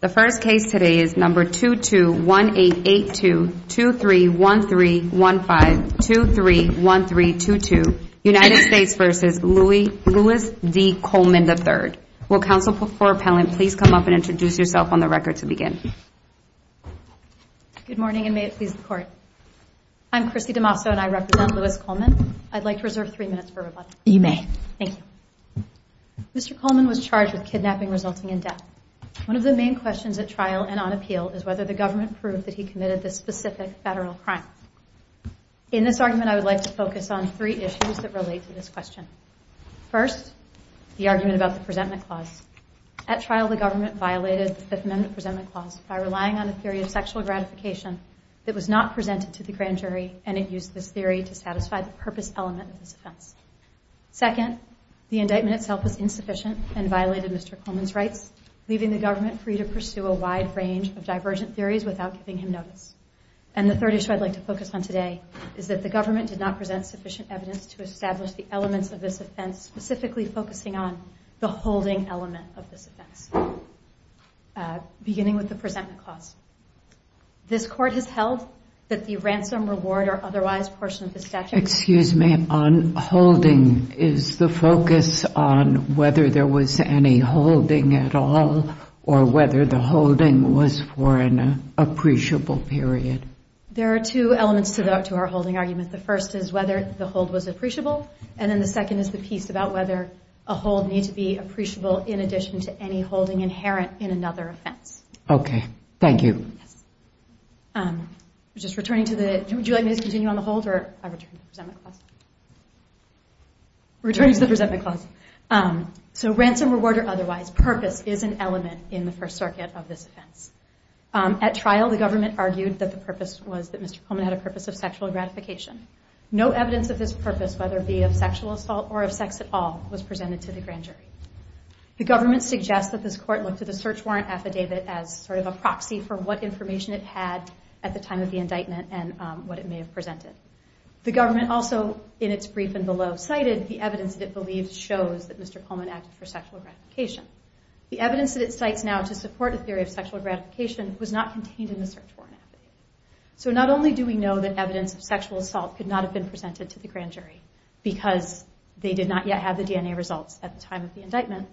The first case today is number 221882-231315-231322, United States v. Louis D. Coleman III. Will counsel for appellant please come up and introduce yourself on the record to begin. Good morning and may it please the court. I'm Chrissy DeMasso and I represent Louis Coleman. I'd like to reserve three minutes for rebuttal. You may. Thank you. Mr. Coleman was charged with kidnapping resulting in death. One of the main questions at trial and on appeal is whether the government proved that he committed this specific federal crime. In this argument I would like to focus on three issues that relate to this question. First, the argument about the presentment clause. At trial the government violated the Fifth Amendment presentment clause by relying on a theory of sexual gratification that was not presented to the grand jury and it used this theory to satisfy the purpose element of this offense. Second, the indictment itself was insufficient and violated Mr. Coleman's rights, leaving the government free to pursue a wide range of divergent theories without giving him notice. And the third issue I'd like to focus on today is that the government did not present sufficient evidence to establish the elements of this offense, specifically focusing on the holding element of this offense, beginning with the presentment clause. This court has held that the ransom, reward, or otherwise portion of the statute... Excuse me. On holding, is the focus on whether there was any holding at all or whether the holding was for an appreciable period? There are two elements to our holding argument. The first is whether the hold was appreciable and then the second is the piece about whether a hold needs to be appreciable in addition to any holding inherent in another offense. Okay. Thank you. Yes. We're just returning to the... Would you like me to continue on the hold or return to the presentment clause? Returning to the presentment clause. So ransom, reward, or otherwise purpose is an element in the First Circuit of this offense. At trial, the government argued that the purpose was that Mr. Coleman had a purpose of sexual gratification. No evidence of this purpose, whether it be of sexual assault or of sex at all, was presented to the grand jury. The government suggests that this court looked at the search warrant affidavit as sort of a proxy for what information it had at the time of the indictment and what it may have The government also, in its brief and below, cited the evidence that it believes shows that Mr. Coleman acted for sexual gratification. The evidence that it cites now to support a theory of sexual gratification was not contained in the search warrant affidavit. So not only do we know that evidence of sexual assault could not have been presented to the grand jury because they did not yet have the DNA results at the time of the indictment,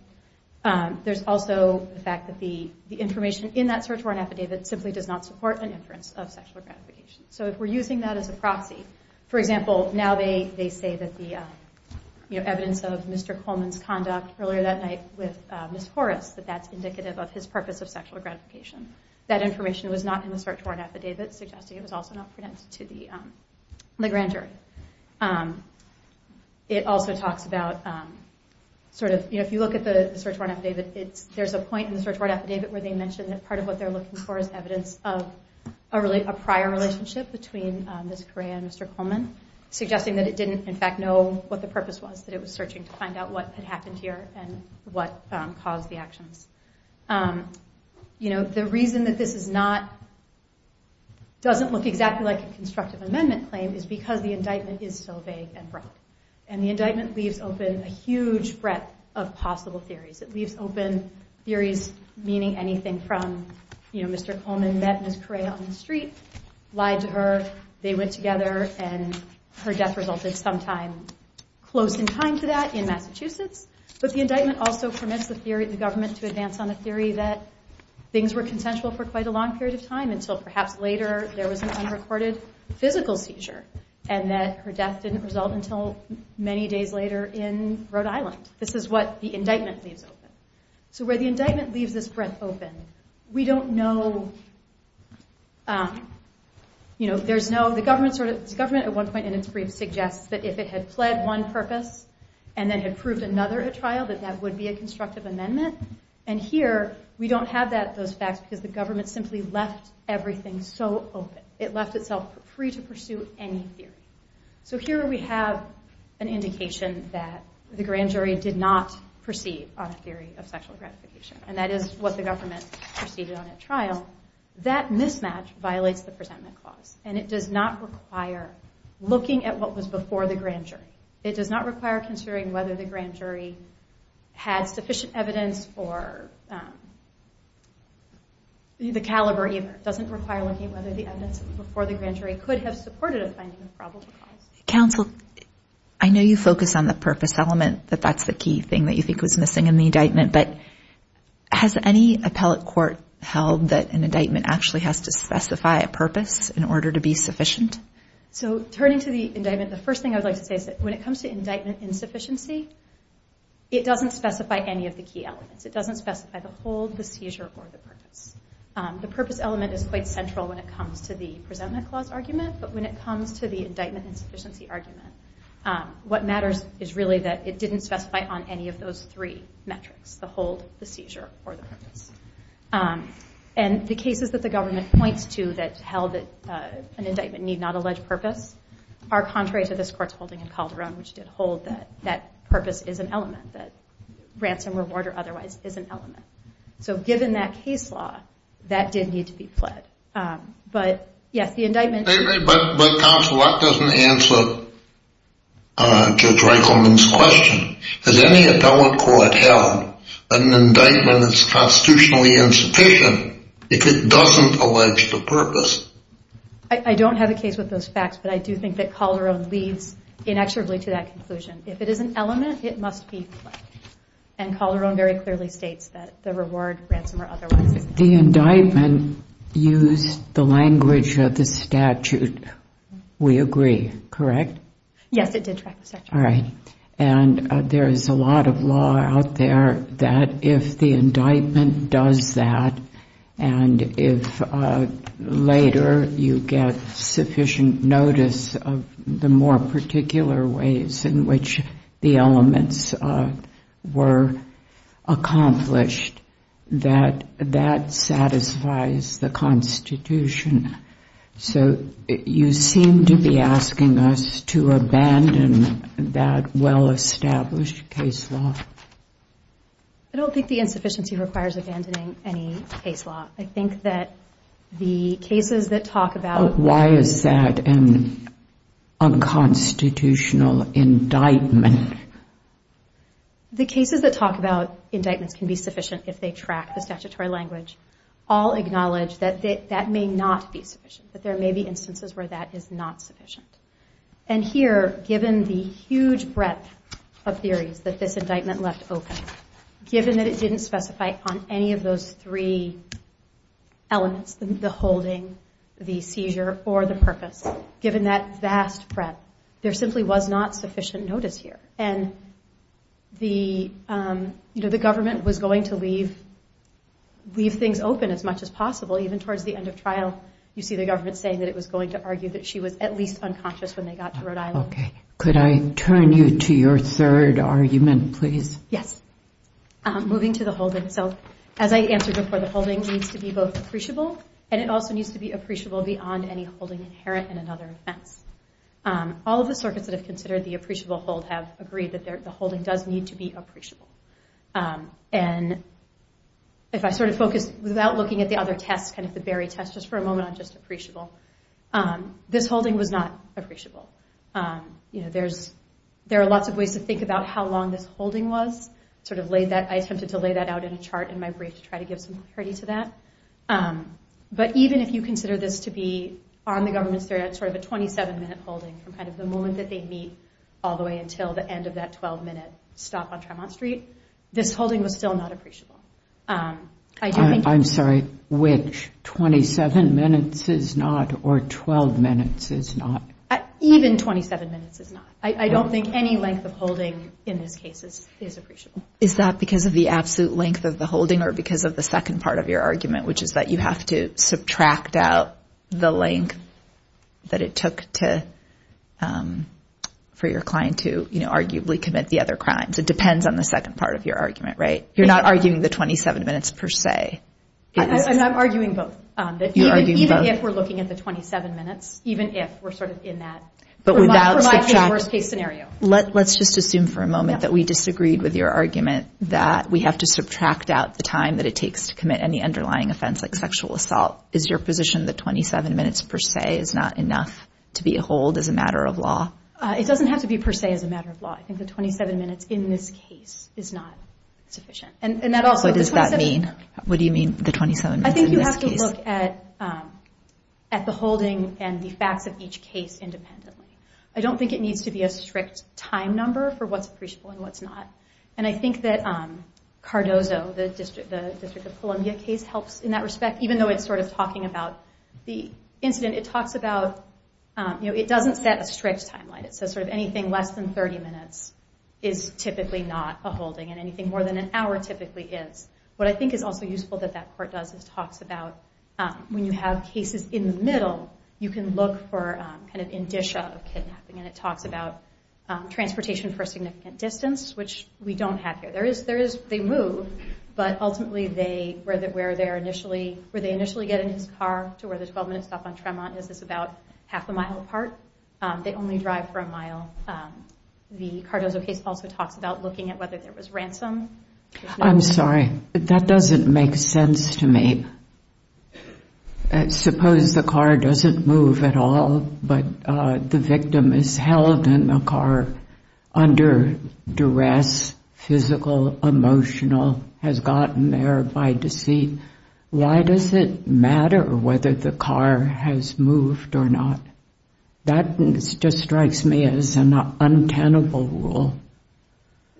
there's also the fact that the information in that search warrant affidavit simply does not support an inference of sexual gratification. So if we're using that as a proxy, for example, now they say that the evidence of Mr. Coleman's conduct earlier that night with Ms. Horace, that that's indicative of his purpose of sexual gratification. That information was not in the search warrant affidavit, suggesting it was also not presented to the grand jury. It also talks about, if you look at the search warrant affidavit, there's a point in the search warrant affidavit where they mention that part of what they're looking for is evidence of a prior relationship between Ms. Correa and Mr. Coleman, suggesting that it didn't in fact know what the purpose was, that it was searching to find out what had happened here and what caused the actions. The reason that this doesn't look exactly like a constructive amendment claim is because the indictment is so vague and broad. And the indictment leaves open a huge breadth of possible theories. It leaves open theories meaning anything from Mr. Coleman met Ms. Correa on the street, lied to her, they went together, and her death resulted sometime close in time to that in Massachusetts. But the indictment also permits the government to advance on a theory that things were consensual for quite a long period of time until perhaps later there was an unrecorded physical seizure and that her death didn't result until many days later in Rhode Island. This is what the indictment leaves open. So where the indictment leaves this breadth open, we don't know, you know, there's no – the government at one point in its brief suggests that if it had pled one purpose and then had proved another at trial, that that would be a constructive amendment. And here, we don't have those facts because the government simply left everything so open. It left itself free to pursue any theory. So here we have an indication that the grand jury did not proceed on a theory of sexual gratification. And that is what the government proceeded on at trial. That mismatch violates the presentment clause. And it does not require looking at what was before the grand jury. It does not require considering whether the grand jury had sufficient evidence for the caliber either. It doesn't require looking at whether the evidence before the grand jury could have supported a finding of probable cause. Counsel, I know you focus on the purpose element, that that's the key thing that you think was missing in the indictment, but has any appellate court held that an indictment actually has to specify a purpose in order to be sufficient? So turning to the indictment, the first thing I would like to say is that when it comes to indictment insufficiency, it doesn't specify any of the key elements. It doesn't specify the hold, the seizure, or the purpose. The purpose element is quite central when it comes to the presentment clause argument. But when it comes to the indictment insufficiency argument, what matters is really that it didn't specify on any of those three metrics, the hold, the seizure, or the purpose. And the cases that the government points to that held that an indictment need not allege purpose are contrary to this court's holding in Calderon, which did hold that that purpose is an element, that ransom, reward, or otherwise is an element. So given that case law, that did need to be fled. But yes, the indictment- But counsel, that doesn't answer Judge Reichelman's question. Has any appellate court held that an indictment is constitutionally insufficient if it doesn't allege the purpose? I don't have a case with those facts, but I do think that Calderon leads inexorably to that conclusion. If it is an element, it must be fled. And Calderon very clearly states that the reward, ransom, or otherwise is an element. The indictment used the language of the statute, we agree, correct? Yes, it did track the statute. All right. And there is a lot of law out there that if the indictment does that, and if later you get sufficient notice of the more particular ways in which the elements were accomplished, that that satisfies the Constitution. So you seem to be asking us to abandon that well-established case law. I don't think the insufficiency requires abandoning any case law. I think that the cases that talk about- Why is that an unconstitutional indictment? The cases that talk about indictments can be sufficient if they track the statutory language, all acknowledge that that may not be sufficient, that there may be instances where that is not sufficient. And here, given the huge breadth of theories that this indictment left open, given that it didn't specify on any of those three elements, the holding, the seizure, or the purpose, given that vast breadth, there simply was not sufficient notice here. And the government was going to leave things open as much as possible, even towards the end of trial. You see the government saying that it was going to argue that she was at least unconscious when they got to Rhode Island. Okay. Could I turn you to your third argument, please? Yes. Moving to the holding. So, as I answered before, the holding needs to be both appreciable, and it also needs to be appreciable beyond any holding inherent in another offense. All of the circuits that have considered the appreciable hold have agreed that the holding does need to be appreciable. And if I sort of focus, without looking at the other tests, kind of the Barry test, just for a moment on just appreciable, this holding was not appreciable. You know, there are lots of ways to think about how long this holding was, sort of laid that, I attempted to lay that out in a chart in my brief to try to give some clarity to that. But even if you consider this to be, on the government's theory, that sort of a 27-minute holding from kind of the moment that they meet all the way until the end of that 12-minute stop on Tremont Street, this holding was still not appreciable. I do think- I'm sorry. Which? 27 minutes is not, or 12 minutes is not? Even 27 minutes is not. I don't think any length of holding in this case is appreciable. Is that because of the absolute length of the holding or because of the second part of your argument, which is that you have to subtract out the length that it took to, for your client to, you know, arguably commit the other crimes? It depends on the second part of your argument, right? You're not arguing the 27 minutes per se. I'm arguing both. You're arguing both? Even if we're looking at the 27 minutes, even if we're sort of in that, for my case, worst case scenario. But without- Let's just assume for a moment that we disagreed with your argument that we have to subtract out the time that it takes to commit any underlying offense like sexual assault. Is your position that 27 minutes per se is not enough to be a hold as a matter of law? It doesn't have to be per se as a matter of law. I think the 27 minutes in this case is not sufficient. And that also- What does that mean? What do you mean, the 27 minutes in this case? I think you have to look at the holding and the facts of each case independently. I don't think it needs to be a strict time number for what's appreciable and what's not. And I think that Cardozo, the District of Columbia case, helps in that respect. Even though it's sort of talking about the incident, it talks about, you know, it doesn't set a strict timeline. It says sort of anything less than 30 minutes is typically not a holding, and anything more than an hour typically is. What I think is also useful that that court does is talks about when you have cases in the middle, you can look for kind of indicia of kidnapping. And it talks about transportation for significant distance, which we don't have here. They move, but ultimately, where they initially get in his car to where the 12-minute stop on Tremont is about half a mile apart, they only drive for a mile. The Cardozo case also talks about looking at whether there was ransom. I'm sorry, that doesn't make sense to me. Suppose the car doesn't move at all, but the victim is held in the car under duress, physical, emotional, has gotten there by deceit. Why does it matter whether the car has moved or not? That just strikes me as an untenable rule.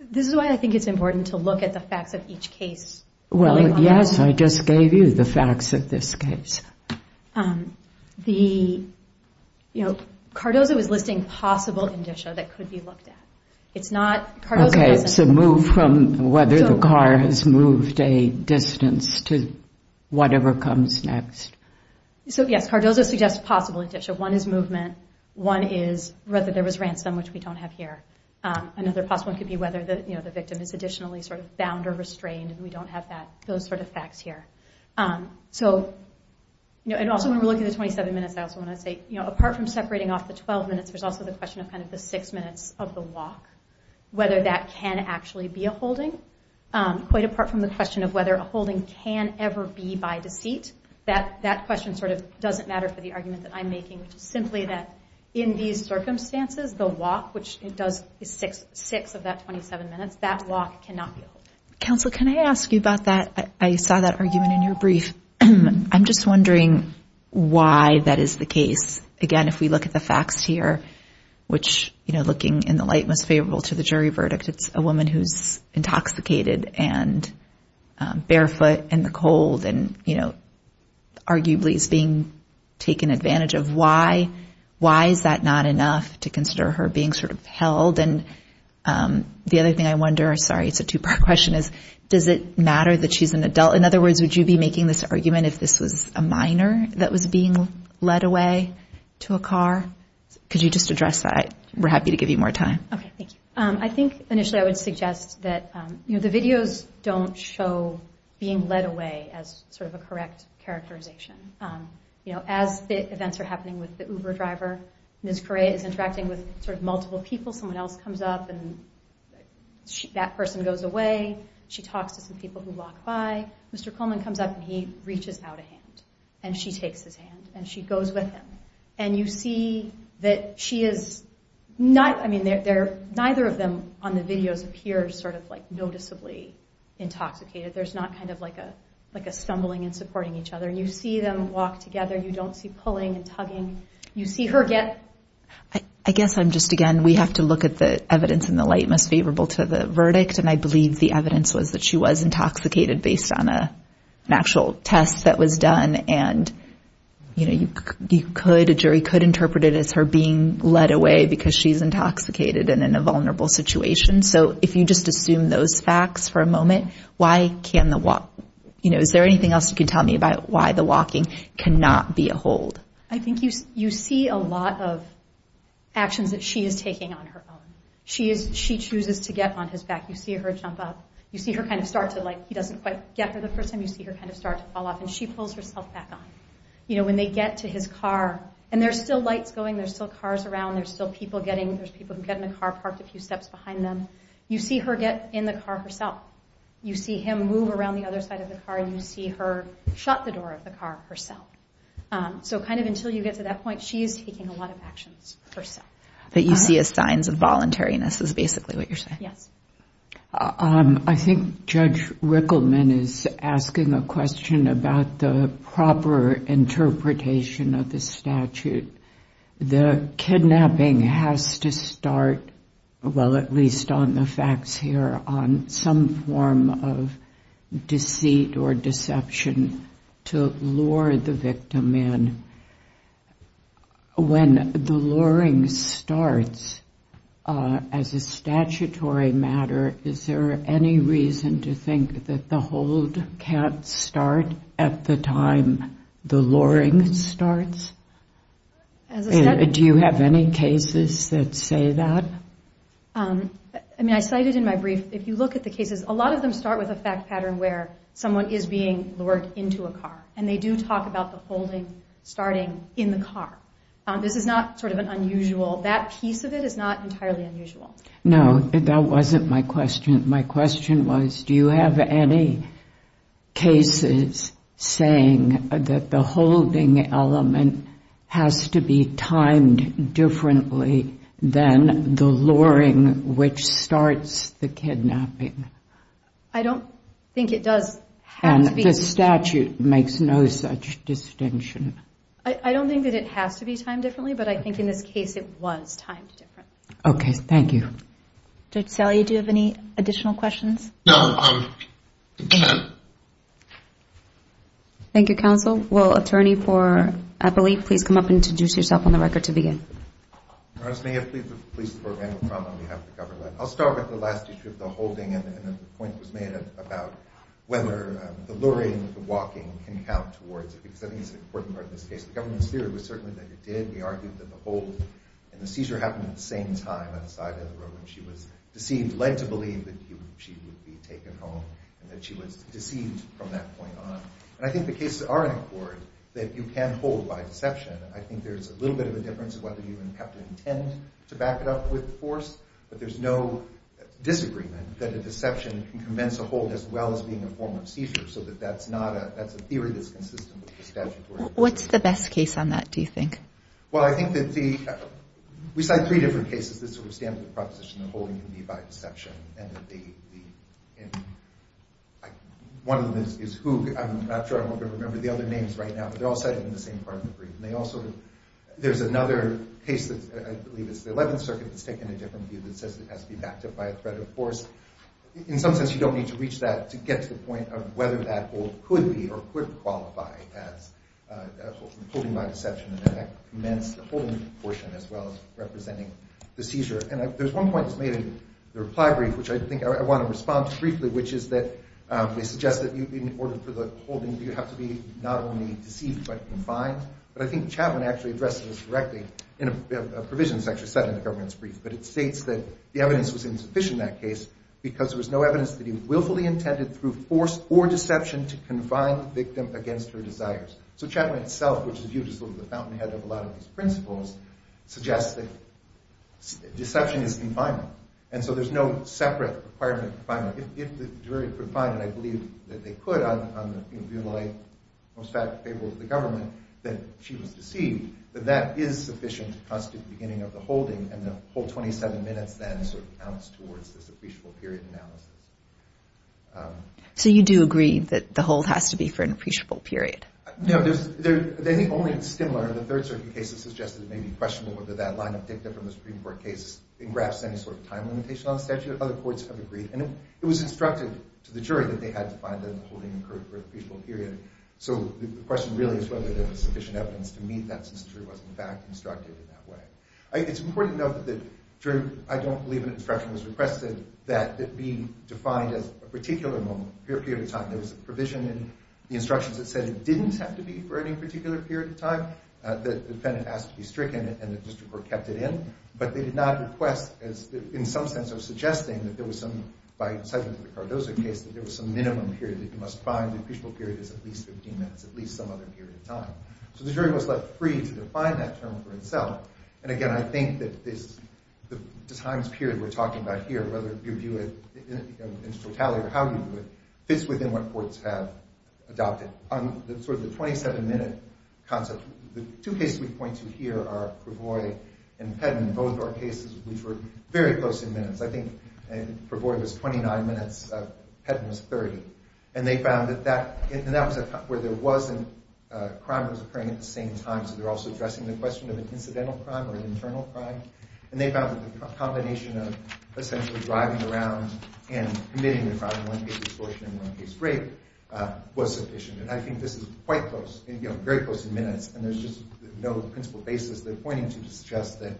This is why I think it's important to look at the facts of each case. Well, yes, I just gave you the facts of this case. The, you know, Cardozo is listing possible indicia that could be looked at. It's not... Okay, so move from whether the car has moved a distance to whatever comes next. So yes, Cardozo suggests possible indicia. One is movement. One is whether there was ransom, which we don't have here. Another possible one could be whether the victim is additionally sort of bound or restrained, and we don't have that, those sort of facts here. So and also when we're looking at the 27 minutes, I also want to say, you know, apart from separating off the 12 minutes, there's also the question of kind of the six minutes of the walk. Whether that can actually be a holding. Quite apart from the question of whether a holding can ever be by deceit. That question sort of doesn't matter for the argument that I'm making, which is simply that in these circumstances, the walk, which it does six of that 27 minutes, that walk cannot be a holding. Counsel, can I ask you about that? I saw that argument in your brief. I'm just wondering why that is the case. Again, if we look at the facts here, which, you know, looking in the light most favorable to the jury verdict, it's a woman who's intoxicated and barefoot in the cold and, you know, arguably is being taken advantage of. Why? Why is that not enough to consider her being sort of held? And the other thing I wonder, sorry, it's a two-part question, is does it matter that she's an adult? In other words, would you be making this argument if this was a minor that was being led away to a car? Could you just address that? We're happy to give you more time. Okay, thank you. I think initially I would suggest that, you know, the videos don't show being led away as sort of a correct characterization. You know, as the events are happening with the Uber driver, Ms. Correa is interacting with sort of multiple people, someone else comes up and that person goes away. She talks to some people who walk by. Mr. Coleman comes up and he reaches out a hand and she takes his hand and she goes with him. And you see that she is not, I mean, neither of them on the videos appear sort of like noticeably intoxicated. There's not kind of like a stumbling and supporting each other. You see them walk together. You don't see pulling and tugging. You see her get… I guess I'm just, again, we have to look at the evidence in the light most favorable to the verdict. And I believe the evidence was that she was intoxicated based on an actual test that was done. And, you know, you could, a jury could interpret it as her being led away because she's intoxicated and in a vulnerable situation. So if you just assume those facts for a moment, why can't the walk, you know, is there anything else you can tell me about why the walking cannot be a hold? I think you see a lot of actions that she is taking on her own. She chooses to get on his back. You see her jump up. You see her kind of start to like, he doesn't quite get her the first time. You see her kind of start to fall off and she pulls herself back on. You know, when they get to his car and there's still lights going, there's still cars around, there's still people getting, there's people who get in the car, parked a few steps behind them. You see her get in the car herself. You see him move around the other side of the car. You see her shut the door of the car herself. So kind of until you get to that point, she is taking a lot of actions herself. That you see as signs of voluntariness is basically what you're saying. Yes. I think Judge Rickleman is asking a question about the proper interpretation of the statute. The kidnapping has to start, well at least on the facts here, on some form of deceit or deception to lure the victim in. When the luring starts, as a statutory matter, is there any reason to think that the hold can't start at the time the luring starts? Do you have any cases that say that? I mean, I cited in my brief, if you look at the cases, a lot of them start with a fact pattern where someone is being lured into a car. And they do talk about the holding starting in the car. This is not sort of an unusual, that piece of it is not entirely unusual. No, that wasn't my question. My question was, do you have any cases saying that the holding element has to be timed differently than the luring, which starts the kidnapping? I don't think it does have to be. And the statute makes no such distinction. I don't think that it has to be timed differently, but I think in this case it was timed differently. Okay, thank you. Dr. Salia, do you have any additional questions? Thank you, counsel. Will attorney for Eppley please come up and introduce yourself on the record to begin? Ernest Mayheff, police department, on behalf of the government. I'll start with the last issue of the holding and the point that was made about whether the luring, the walking, can count towards it, because I think it's an important part of this case. The government's theory was certainly that it did. They argued that the hold and the seizure happened at the same time outside of the room when she was deceived, led to believe that she would be taken home and that she was deceived from that point on. And I think the cases are in accord that you can hold by deception. I think there's a little bit of a difference in whether you have to intend to back it up with force, but there's no disagreement that a deception can convince a hold as well as being a form of seizure, so that's a theory that's consistent with the statutory. What's the best case on that, do you think? Well, I think that the, we cite three different cases that sort of stand for the proposition that holding can be by deception, and that the, one of them is Hoog, I'm not sure, I'm not going to remember the other names right now, but they're all cited in the same part of the brief, and they all sort of, there's another case that, I believe it's the 11th circuit that's taken a different view that says it has to be backed up by a threat of force. In some sense, you don't need to reach that to get to the point of whether that hold could be or could qualify as holding by deception, and that commends the holding portion as well as representing the seizure. And there's one point that's made in the reply brief, which I think I want to respond to briefly, which is that they suggest that in order for the holding, you have to be not only deceived but confined, but I think Chapman actually addresses this directly in a provision that's actually said in the governance brief, but it states that the evidence was insufficient in that case because there was no evidence that he willfully intended through force or deception to confine the victim against her desires. So Chapman itself, which is usually sort of the fountainhead of a lot of these principles, suggests that deception is confinement. And so there's no separate requirement of confinement. If the jury could find, and I believe that they could on the most fatal fable of the government, that she was deceived, then that is sufficient to constitute the beginning of the holding, and the whole 27 minutes then sort of counts towards this appreciable period analysis. So you do agree that the hold has to be for an appreciable period? No. I think only in Stimler, the Third Circuit case has suggested it may be questionable whether that line of dicta from the Supreme Court case engraps any sort of time limitation on the statute. Other courts have agreed. And it was instructed to the jury that they had to find that the holding occurred for an appreciable period. So the question really is whether there was sufficient evidence to meet that since the jury wasn't, in fact, instructed in that way. It's important to note that the jury, I don't believe an instruction was requested that it be defined as a particular period of time. There was a provision in the instructions that said it didn't have to be for any particular period of time. The defendant asked to be stricken, and the district court kept it in. But they did not request, in some sense of suggesting that there was some, by incitement to the Cardozo case, that there was some minimum period that you must find. The appreciable period is at least 15 minutes, at least some other period of time. So the jury was left free to define that term for itself. And again, I think that the times period we're talking about here, whether you view it in totality or how you view it, fits within what courts have adopted. On sort of the 27-minute concept, the two cases we point to here are Prevoy and Pedden, both are cases which were very close in minutes. I think Prevoy was 29 minutes, Pedden was 30. And they found that that was where there was a crime that was occurring at the same time. So they're also addressing the question of an incidental crime or an internal crime. And they found that the combination of essentially driving around and committing the crime in one case of extortion and one case of rape was sufficient. And I think this is quite close, very close in minutes. And there's just no principle basis they're pointing to to suggest that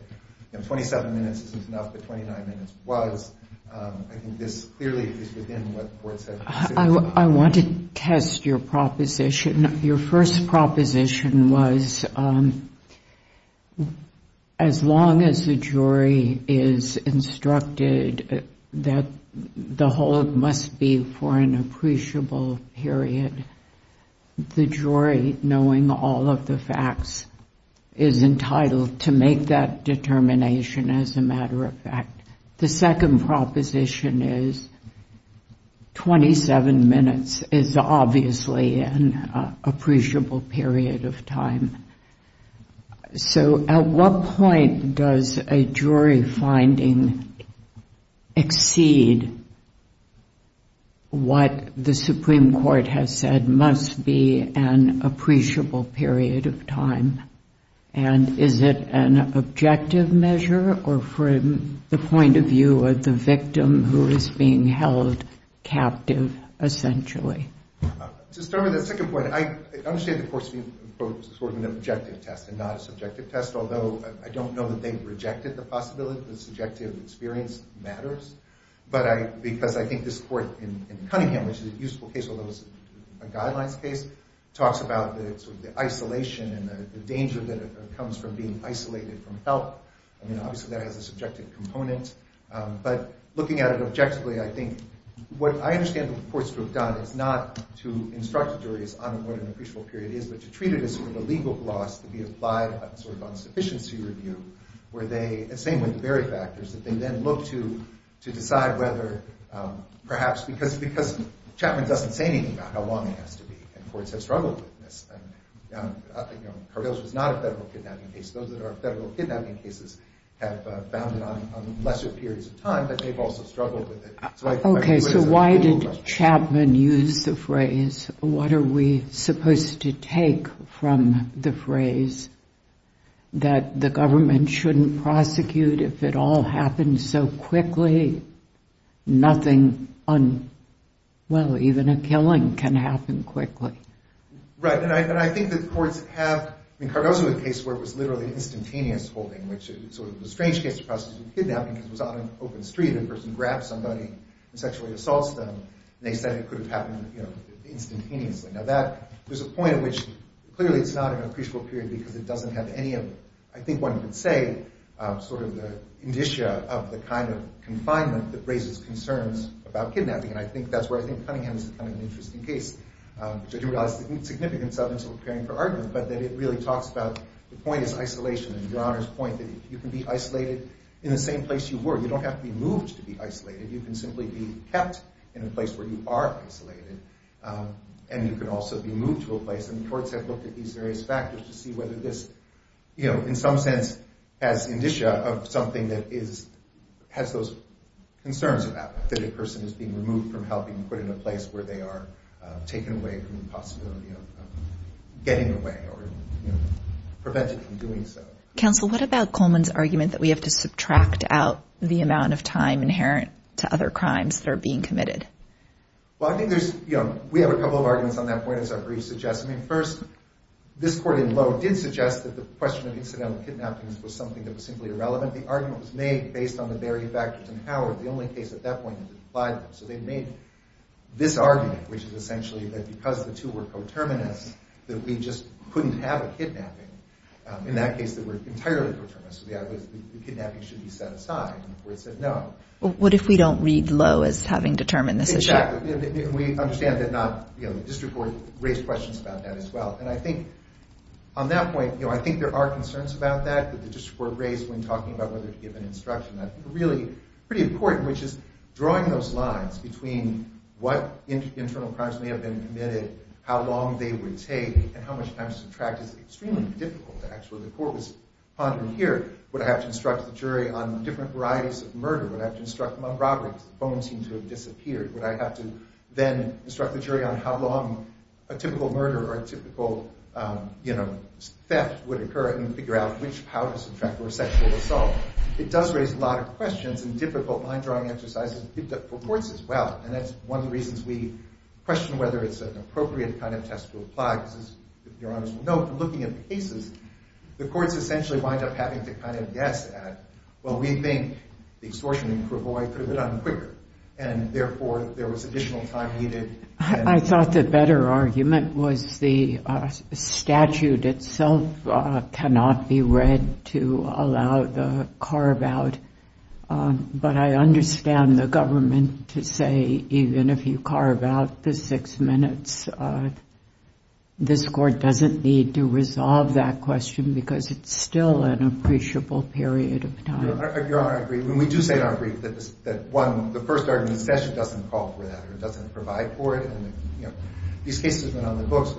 27 minutes isn't enough, but 29 minutes was. I think this clearly is within what courts have. I want to test your proposition. Your first proposition was as long as the jury is instructed that the hold must be for an appreciable period, the jury, knowing all of the facts, is entitled to make that determination as a matter of fact. The second proposition is 27 minutes is obviously an appreciable period of time. So at what point does a jury finding exceed what the Supreme Court has said must be an appreciable period of time? And is it an objective measure or from the point of view of the victim who is being held captive, essentially? To start with the second point, I understand the court's view of an objective test and not a subjective test, although I don't know that they've rejected the possibility that subjective experience matters. But because I think this court in Cunningham, which is a useful case, although it's a guidelines case, talks about the isolation and the danger that comes from being isolated from help. Obviously, that has a subjective component. But looking at it objectively, I think what I understand the courts to have done is not to instruct a jury as to what an appreciable period is, but to treat it as a legal gloss to be applied on sufficiency review, where they, same with the very factors, that they then look to decide whether perhaps because Chapman doesn't say anything about how long it has to be, and courts have struggled with this. And Cargill's was not a federal kidnapping case. Those that are federal kidnapping cases have bounded on lesser periods of time, but they've also struggled with it. Okay, so why did Chapman use the phrase, what are we supposed to take from the phrase that the government shouldn't prosecute if it all happens so quickly? Nothing, well, even a killing can happen quickly. Right, and I think that the courts have, I mean, Cargill's is a case where it was literally instantaneous holding, which is sort of a strange case of prosecution of kidnapping because it was on an open street, a person grabs somebody and sexually assaults them, and they said it could have happened instantaneously. Now that, there's a point at which clearly it's not an appreciable period because it doesn't have any of, I think one could say, sort of the indicia of the kind of confinement that raises concerns about kidnapping, and I think that's where I think Cunningham's is kind of an interesting case, which I do realize the significance of, and so I'm preparing for argument, but that it really talks about, the point is isolation, and Your Honor's point that you can be isolated in the same place you were. You don't have to be moved to be isolated, you can simply be kept in a place where you are isolated, and you can also be moved to a place, and courts have looked at these various factors to see whether this, you know, in some sense has indicia of something that is, has those concerns about that a person is being removed from helping, and put in a place where they are taken away from the possibility of getting away, or prevented from doing so. Counsel, what about Coleman's argument that we have to subtract out the amount of time inherent to other crimes that are being committed? Well, I think there's, you know, we have a couple of arguments on that point as our brief suggests. I mean, first, this court in Lowe did suggest that the question of incidental kidnappings was something that was simply irrelevant. The argument was made based on the various factors, and Howard, the only case at that point that applied them. So they made this argument, which is essentially that because the two were coterminous, that we just couldn't have a kidnapping. In that case, they were entirely coterminous. The kidnapping should be set aside, and the court said no. What if we don't read Lowe as having determined this? Exactly. We understand that not, you know, the district court raised questions about that as well. And I think on that point, you know, I think there are concerns about that that the district court raised when talking about whether to give an instruction. I think a really pretty important, which is drawing those lines between what internal crimes may have been committed, how long they would take, and how much time to subtract is extremely difficult. Actually, the court was pondering here, would I have to instruct the jury on different varieties of murder? Would I have to instruct them on robberies? The bones seem to have disappeared. Would I have to then instruct the jury on how long a typical murder or a typical, you know, theft would occur and figure out which powers, in fact, were sexual assault? It does raise a lot of questions and difficult mind-drawing exercises for courts as well. And that's one of the reasons we question whether it's an appropriate kind of test to apply, because as Your Honors will know, looking at the cases, the courts essentially wind up having to kind of guess at, well, we think the extortion in Provoi could have been done quicker. And therefore, there was additional time needed. I thought the better argument was the statute itself cannot be read to allow the carve-out. But I understand the government to say even if you carve out the six minutes, this court doesn't need to resolve that question because it's still an appreciable period of time. Your Honor, I agree. We do say in our brief that, one, the first argument in the statute doesn't call for that or doesn't provide for it. These cases have been on the books.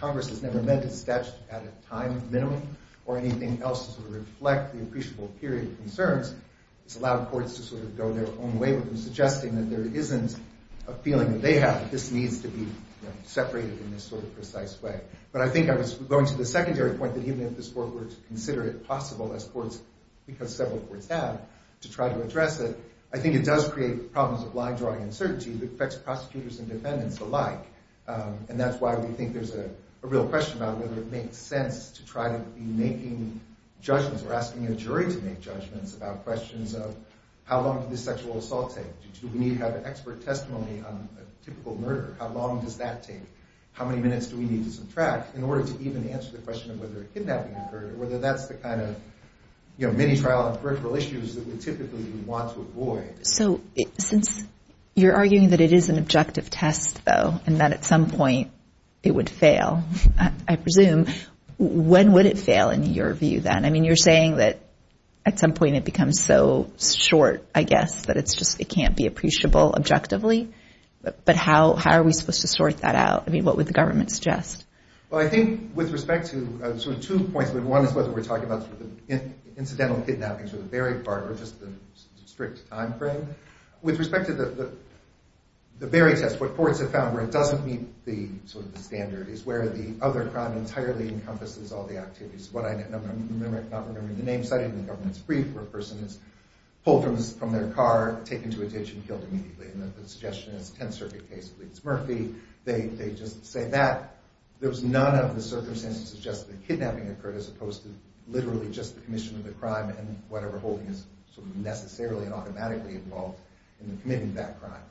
Congress has never meant the statute at a time minimum or anything else to reflect the appreciable period of concerns. It's allowed courts to sort of go their own way with them, suggesting that there isn't a feeling that they have that this needs to be separated in this sort of precise way. But I think I was going to the secondary point that even if this court were to consider it possible as courts, because several courts have, to try to address it, I think it does create problems of line-drawing uncertainty that affects prosecutors and defendants alike. And that's why we think there's a real question about whether it makes sense to try to be making judgments or asking a jury to make judgments about questions of how long did this sexual assault take? Do we need to have an expert testimony on a typical murder? How long does that take? How many minutes do we need to subtract in order to even answer the question of whether a kidnapping occurred, or whether that's the kind of mini-trial on curricular issues that we typically would want to avoid? So since you're arguing that it is an objective test, though, and that at some point it would fail, I presume, when would it fail in your view, then? I mean, you're saying that at some point it becomes so short, I guess, that it's just it can't be appreciable objectively. But how are we supposed to sort that out? I mean, what would the government suggest? Well, I think with respect to two points, one is whether we're talking about the incidental kidnappings or the buried part or just the strict time frame. With respect to the buried test, what courts have found where it doesn't meet the standard is where the other crime entirely encompasses all the activities. I'm not remembering the name cited in the government's brief where a person is pulled from their car, taken to a ditch, and killed immediately. And the suggestion is a Tenth Circuit case leads Murphy, they just say that. There was none of the circumstances to suggest that a kidnapping occurred as opposed to literally just the commission of the crime and whatever holding is necessarily and automatically involved in the committing of that crime.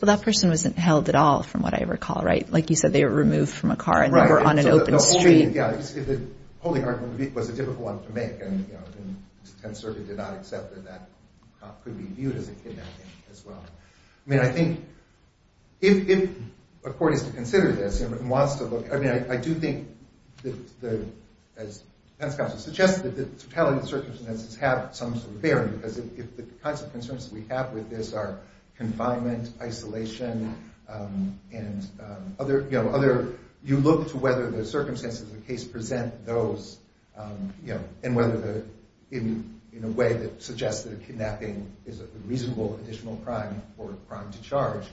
Well, that person wasn't held at all from what I recall, right? Like you said, they were removed from a car and they were on an open street. The holding argument was a difficult one to make and the Tenth Circuit did not accept that that cop could be viewed as a kidnapping as well. I mean, I think if a court is to consider this and wants to look, I mean, I do think that as defense counsel suggested that the totality of the circumstances have some sort of bearing because the kinds of concerns we have with this are confinement, isolation, and other, you know, other, you look to whether the circumstances of the case present those you know, and whether the in a way that suggests that a kidnapping is a reasonable additional crime or a crime to charge.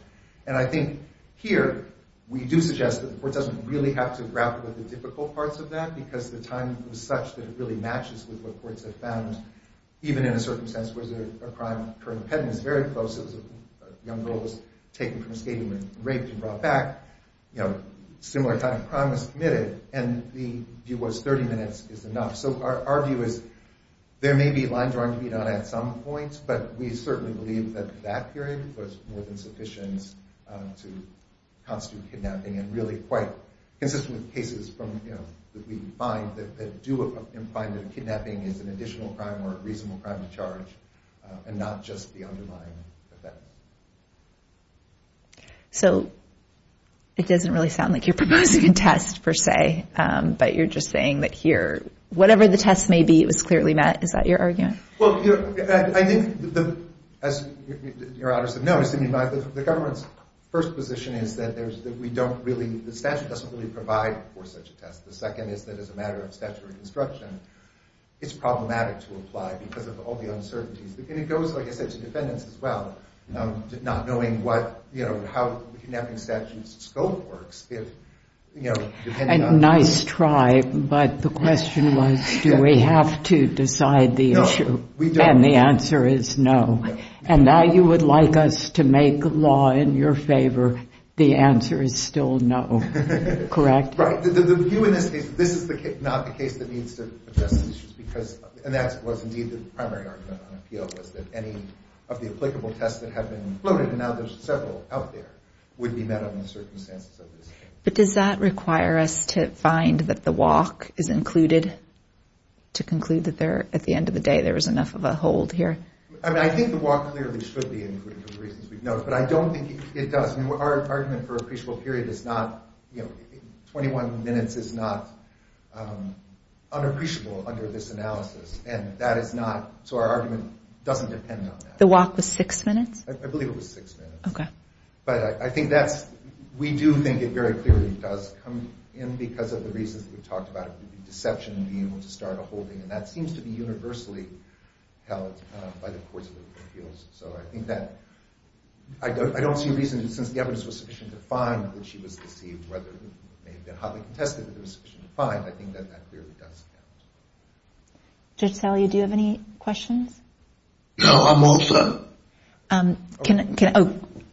And I think here we do suggest that the court doesn't really have to grapple with the difficult parts of that because the time was such that it really matches with what courts have found even in a circumstance where there's a crime current pedant is very close, a young girl was taken from a stadium and raped and brought back, similar kind of crime was committed and the view was 30 minutes is enough. So our view is there may be line drawing to be done at some points, but we certainly believe that that period was more than sufficient to constitute kidnapping and really quite consistent with cases that we find that do find that kidnapping is an additional crime or a reasonable crime to charge and not just the underlying effect. So it doesn't really sound like you're proposing a test per se but you're just saying that here whatever the test may be it was clearly met Is that your argument? I think as your honor said, no the government's first position is that the statute doesn't really provide for such a test. The second is that as a matter of statutory construction it's problematic to apply because of all the uncertainties and it goes, like I said, to defendants as well not knowing how kidnapping statute's scope works A nice try, but the question was do we have to decide the issue and the answer is no. And now you would like us to make law in your favor the answer is still no. Correct? This is not the case that needs to adjust and that was indeed the primary argument on appeal was that any of the applicable tests that have been included and now there's several out there would be met on the circumstances of this case. But does that require us to find that the walk is included to conclude that at the end of the day there was enough of a hold here? I think the walk clearly should be included but I don't think it does our argument for appreciable period is not 21 minutes is not unappreciable under this analysis and that is not, so our argument doesn't depend on that. The walk was 6 minutes? I believe it was 6 minutes but I think that's we do think it very clearly does come in because of the reasons we talked about it would be deception to be able to start a holding and that seems to be universally held by the courts of appeals so I think that I don't see a reason since the evidence was sufficient to find that she was deceived whether it may have been hotly contested if it was sufficient to find, I think that that clearly does count. Judge Salia, do you have any questions? No, I'm all set.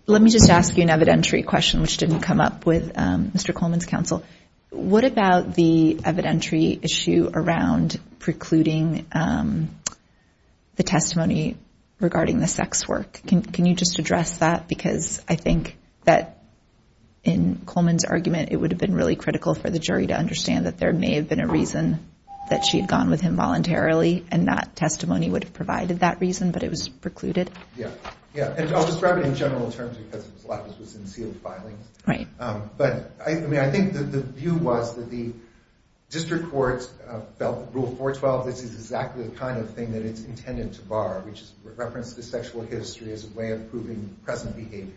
Let me just ask you an evidentiary question which didn't come up with Mr. Coleman's counsel what about the evidentiary issue around precluding the testimony regarding the sex work? Can you just address that because I think that in Coleman's argument it would have been really critical for the jury to understand that there may have been a reason that she had gone with him voluntarily and not testimony would have provided that reason but it was precluded? I'll describe it in general terms because a lot of this was in sealed filings but I think the view was that the district court felt rule 412 this is exactly the kind of thing that it's intended to bar which is reference to sexual history as a way of proving present behavior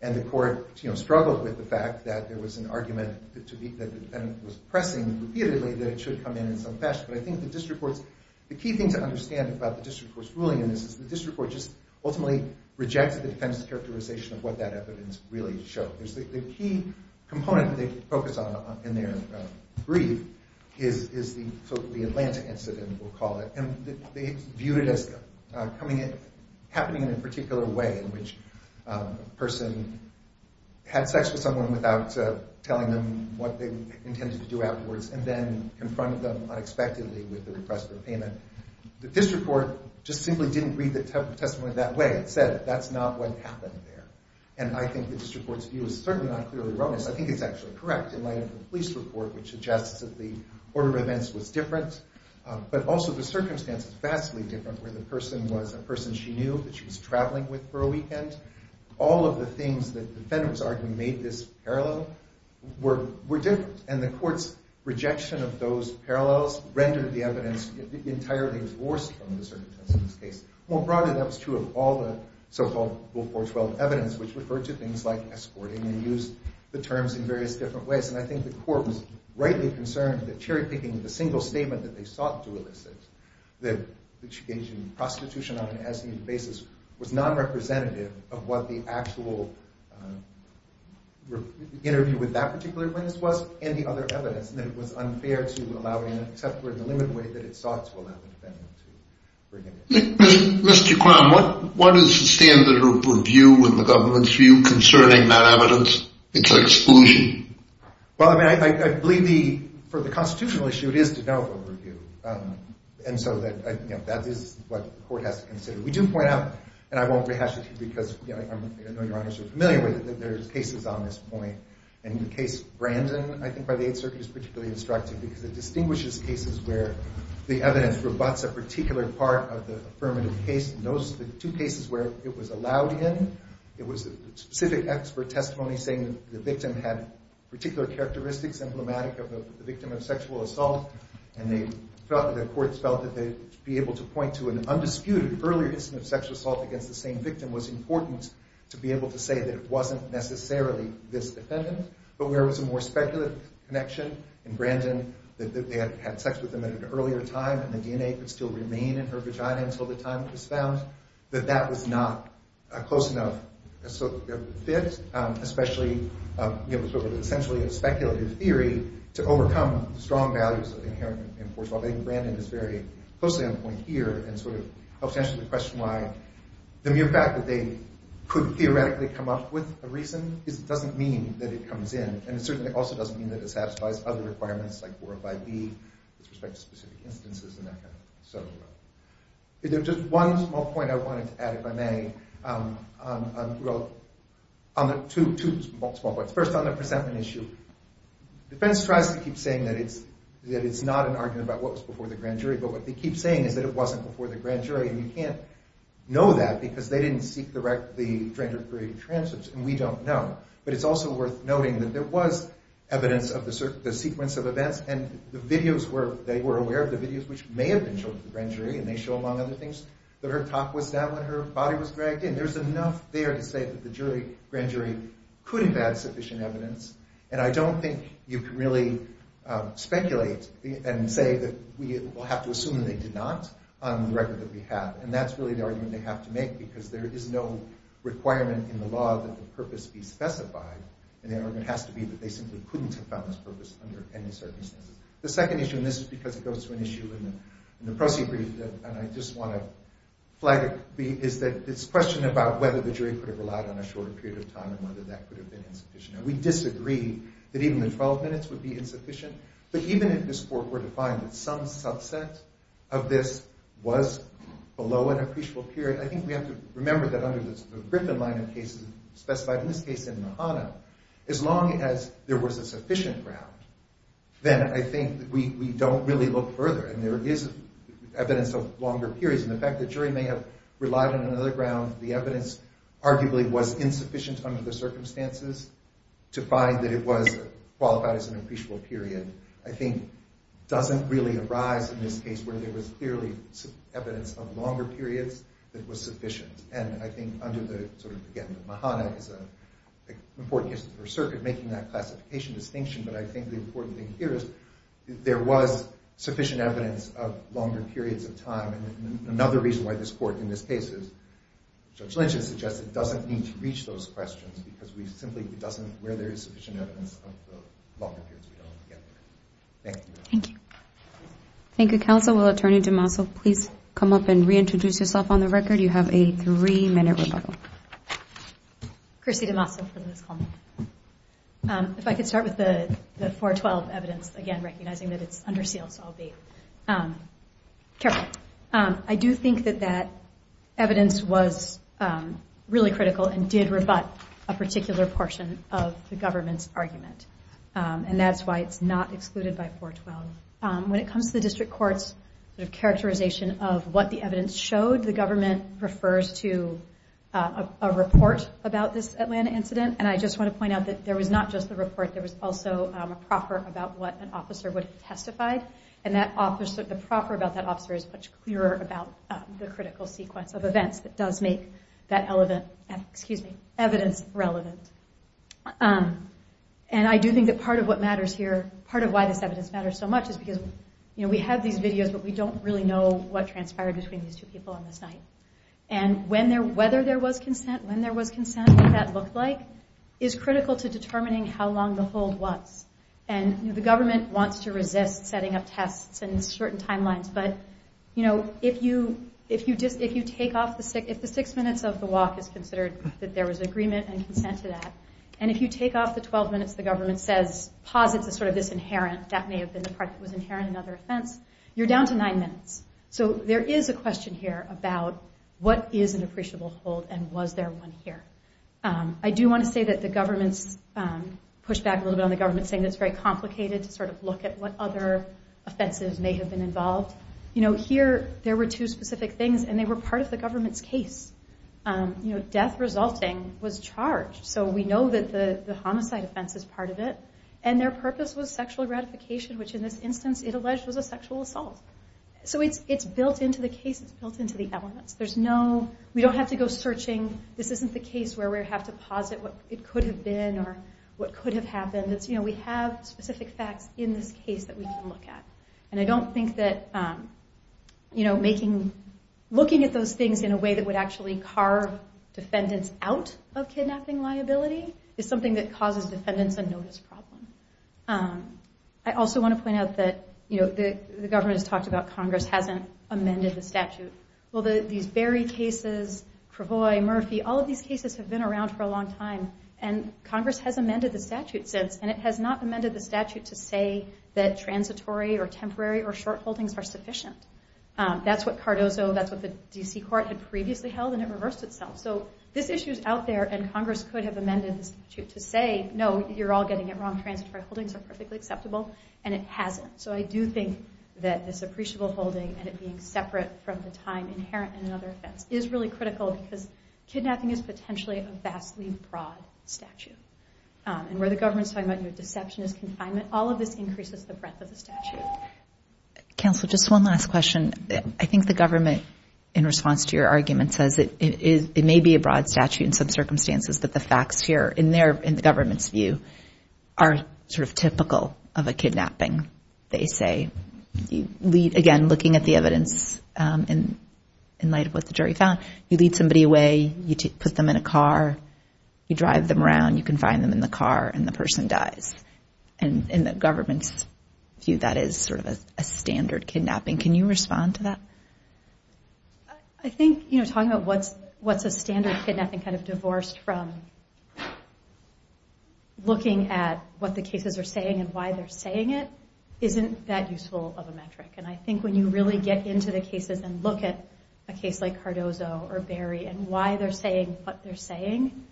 and the court struggled with the fact that there was an argument that the defendant was pressing repeatedly that it should come in in some fashion but I think the district court the key thing to understand about the district court's ruling in this is the district court just ultimately rejected the defendant's characterization of what that evidence really showed the key component that they focused on in their brief is the Atlantic incident we'll call it and they viewed it as happening in a particular way in which a person had sex with someone without telling them what they intended to do afterwards and then confronted them unexpectedly with the request for payment the district court just simply didn't read the testimony that way it said that's not what happened there and I think the district court's view is certainly not clearly wrong I think it's actually correct in light of the police report which suggests that the order of events was different but also the circumstances vastly different where the person was a person she knew that she was traveling with for a weekend all of the things that the defendant was arguing made this parallel were different and the court's rejection of those parallels rendered the evidence entirely divorced from the circumstances of this case more broadly that was true of all the so called before 12 evidence which referred to things like escorting and used the terms in various different ways and I think the court was rightly concerned that cherry picking the single statement that they sought to elicit that litigation prostitution on an SED basis was non-representative of what the actual interview with that particular witness was and the other evidence that it was unfair to allow it in except for the limited way that it sought to allow the defendant to bring it in Mr. Crown, what is the standard of review in the government's view concerning that evidence? It's exclusion I believe for the constitutional issue it is to develop a review and so that is what the court has to consider. We do point out and I won't rehash it because I know your honors are familiar with it that there are cases on this point and the case Brandon I think by the 8th circuit is particularly instructive because it distinguishes cases where the evidence rebuts a particular part of the affirmative case the two cases where it was allowed in, it was a specific expert testimony saying that the victim had particular characteristics emblematic of a victim of sexual assault and the courts felt that they'd be able to point to an undisputed earlier instance of sexual assault against the same victim was important to be able to say that it wasn't necessarily this defendant but where it was a more speculative connection in Brandon that they had sex with him at an earlier time and the DNA could still remain in her vagina until the time it was found that that was not a close enough fit especially essentially a speculative theory to overcome the strong values of the inherent enforcement. I think Brandon is very closely on point here and sort of helps answer the question why the mere fact that they could theoretically come up with a reason doesn't mean that it comes in and it certainly also doesn't mean that it satisfies other requirements like 45B with respect to specific instances and that kind of thing. If there's just one small point I wanted to add if I may on the two small points. First on the presentment issue, defense tries to keep saying that it's not an argument about what was before the grand jury but what they keep saying is that it wasn't before the grand jury and you can't know that because they didn't seek the stranger-free transfers and we don't know. But it's also worth noting that there was evidence of the sequence of events and the videos were, they were aware of the videos which may have been shown to the grand jury and they show among other things that her top was down when her body was dragged in. There's enough there to say that the jury, grand jury couldn't have had sufficient evidence and I don't think you can really speculate and say that we will have to assume that they did not on the record that we have and that's really the argument they have to make because there is no requirement in the law that the purpose be specified and the argument has to be that they simply couldn't have found this purpose under any circumstances. The second issue and this is because it goes to an issue in the proceedings and I just want to flag it is that this question about whether the jury could have relied on a shorter period of time and whether that could have been insufficient and we disagree that even the 12 minutes would be insufficient but even if this court were to find that some subset of this was below an appreciable period, I think we have to remember that under the Griffin line of cases specified in this case in Mahana as long as there was a sufficient ground, then I think we don't really look further and there is evidence of longer periods and the fact that the jury may have relied on another ground, the evidence arguably was insufficient under the circumstances to find that it was qualified as an appreciable period I think doesn't really arise in this case where there was clearly evidence of longer periods that was sufficient and I think under the Mahana is an important case for circuit making that classification distinction but I think the important thing here is there was sufficient evidence of longer periods of time and another reason why this court in this case is Judge Lynch has suggested doesn't need to reach those questions because we simply doesn't where there is sufficient evidence of longer periods we don't get there. Thank you. Thank you counsel. Will attorney DeMaso please come up and reintroduce yourself on the record. You have a three minute rebuttal. Chrissy DeMaso for this call. If I could start with the 412 evidence again recognizing that it's under seal so I'll be careful. I do think that that evidence was really critical and did rebut a particular portion of the government's argument and that's why it's not excluded by 412. When it comes to the district courts characterization of what the evidence showed the government refers to a report about this Atlanta incident and I just want to point out that there was not just a report there was also a proffer about what an officer would testify and that officer the proffer about that officer is much clearer about the critical sequence of events that does make that evidence relevant. And I do think that part of what matters here part of why this evidence matters so much is because we have these videos but we don't really know what transpired between these two people on this night. And whether there was consent, when there was consent, what that looked like is critical to determining how long the hold was. And the government wants to resist setting up tests and certain timelines but if you take off the six minutes of the walk is considered that there was agreement and consent to that and if you take off the 12 minutes the government says posits as sort of this inherent that may have been the part that was inherent in other offense you're down to nine minutes. So there is a question here about what is an appreciable hold and was there one here. I do want to say that the government pushed back a little bit on the government saying that it's very complicated to sort of look at what other offenses may have been involved you know here there were two specific things and they were part of the government's case you know death resulting was charged. So we know that the homicide offense is part of it and their purpose was sexual gratification which in this instance it alleged was a sexual assault. So it's built into the case, it's built into the elements. There's no, we don't have to go searching this isn't the case where we have to posit what it could have been or what could have happened. You know we have specific facts in this case that we can look at. And I don't think that you know making looking at those things in a way that would actually carve defendants out of kidnapping liability is something that causes defendants a notice problem. I also want to point out that you know the government has talked about Congress hasn't amended the statute. Well these Berry cases, Cravoy, Murphy all of these cases have been around for a long time and Congress has amended the statute since and it has not amended the statute to say that transitory or temporary or short holdings are sufficient. That's what Cardozo, that's what the D.C. court had previously held and it reversed itself. So this issue is out there and Congress could have amended the statute to say no you're all getting it wrong transitory holdings are perfectly acceptable and it hasn't. So I do think that this appreciable holding and it being separate from the time inherent in another offense is really critical because kidnapping is potentially a vastly broad statute. And where the government is talking about deceptionist confinement all of this increases the breadth of the statute. Counsel just one last question I think the government in response to your argument says it may be a broad statute in some circumstances that the facts here in the government's view are sort of typical of a kidnapping they say again looking at the evidence in light of what the jury found you lead somebody away, you put them in a car, you drive them around you can find them in the car and the person dies. In the government's view that is sort of a standard kidnapping. Can you respond to that? I think talking about what's a standard kidnapping kind of divorced from looking at what the cases are saying and why they're saying it isn't that useful of a metric. I think when you really get into the cases and look at a case like Cardozo or Berry and why they're saying what they're saying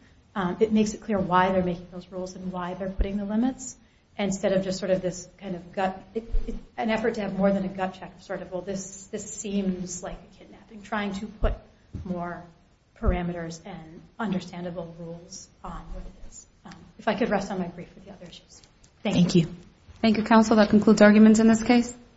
it makes it clear why they're making those rules and why they're putting the limits instead of just sort of an effort to have more than a gut check this seems like a kidnapping trying to put more parameters and understandable rules on what it is. If I could rest on my grief with the other issues. Thank you. Thank you counsel that concludes arguments in this case.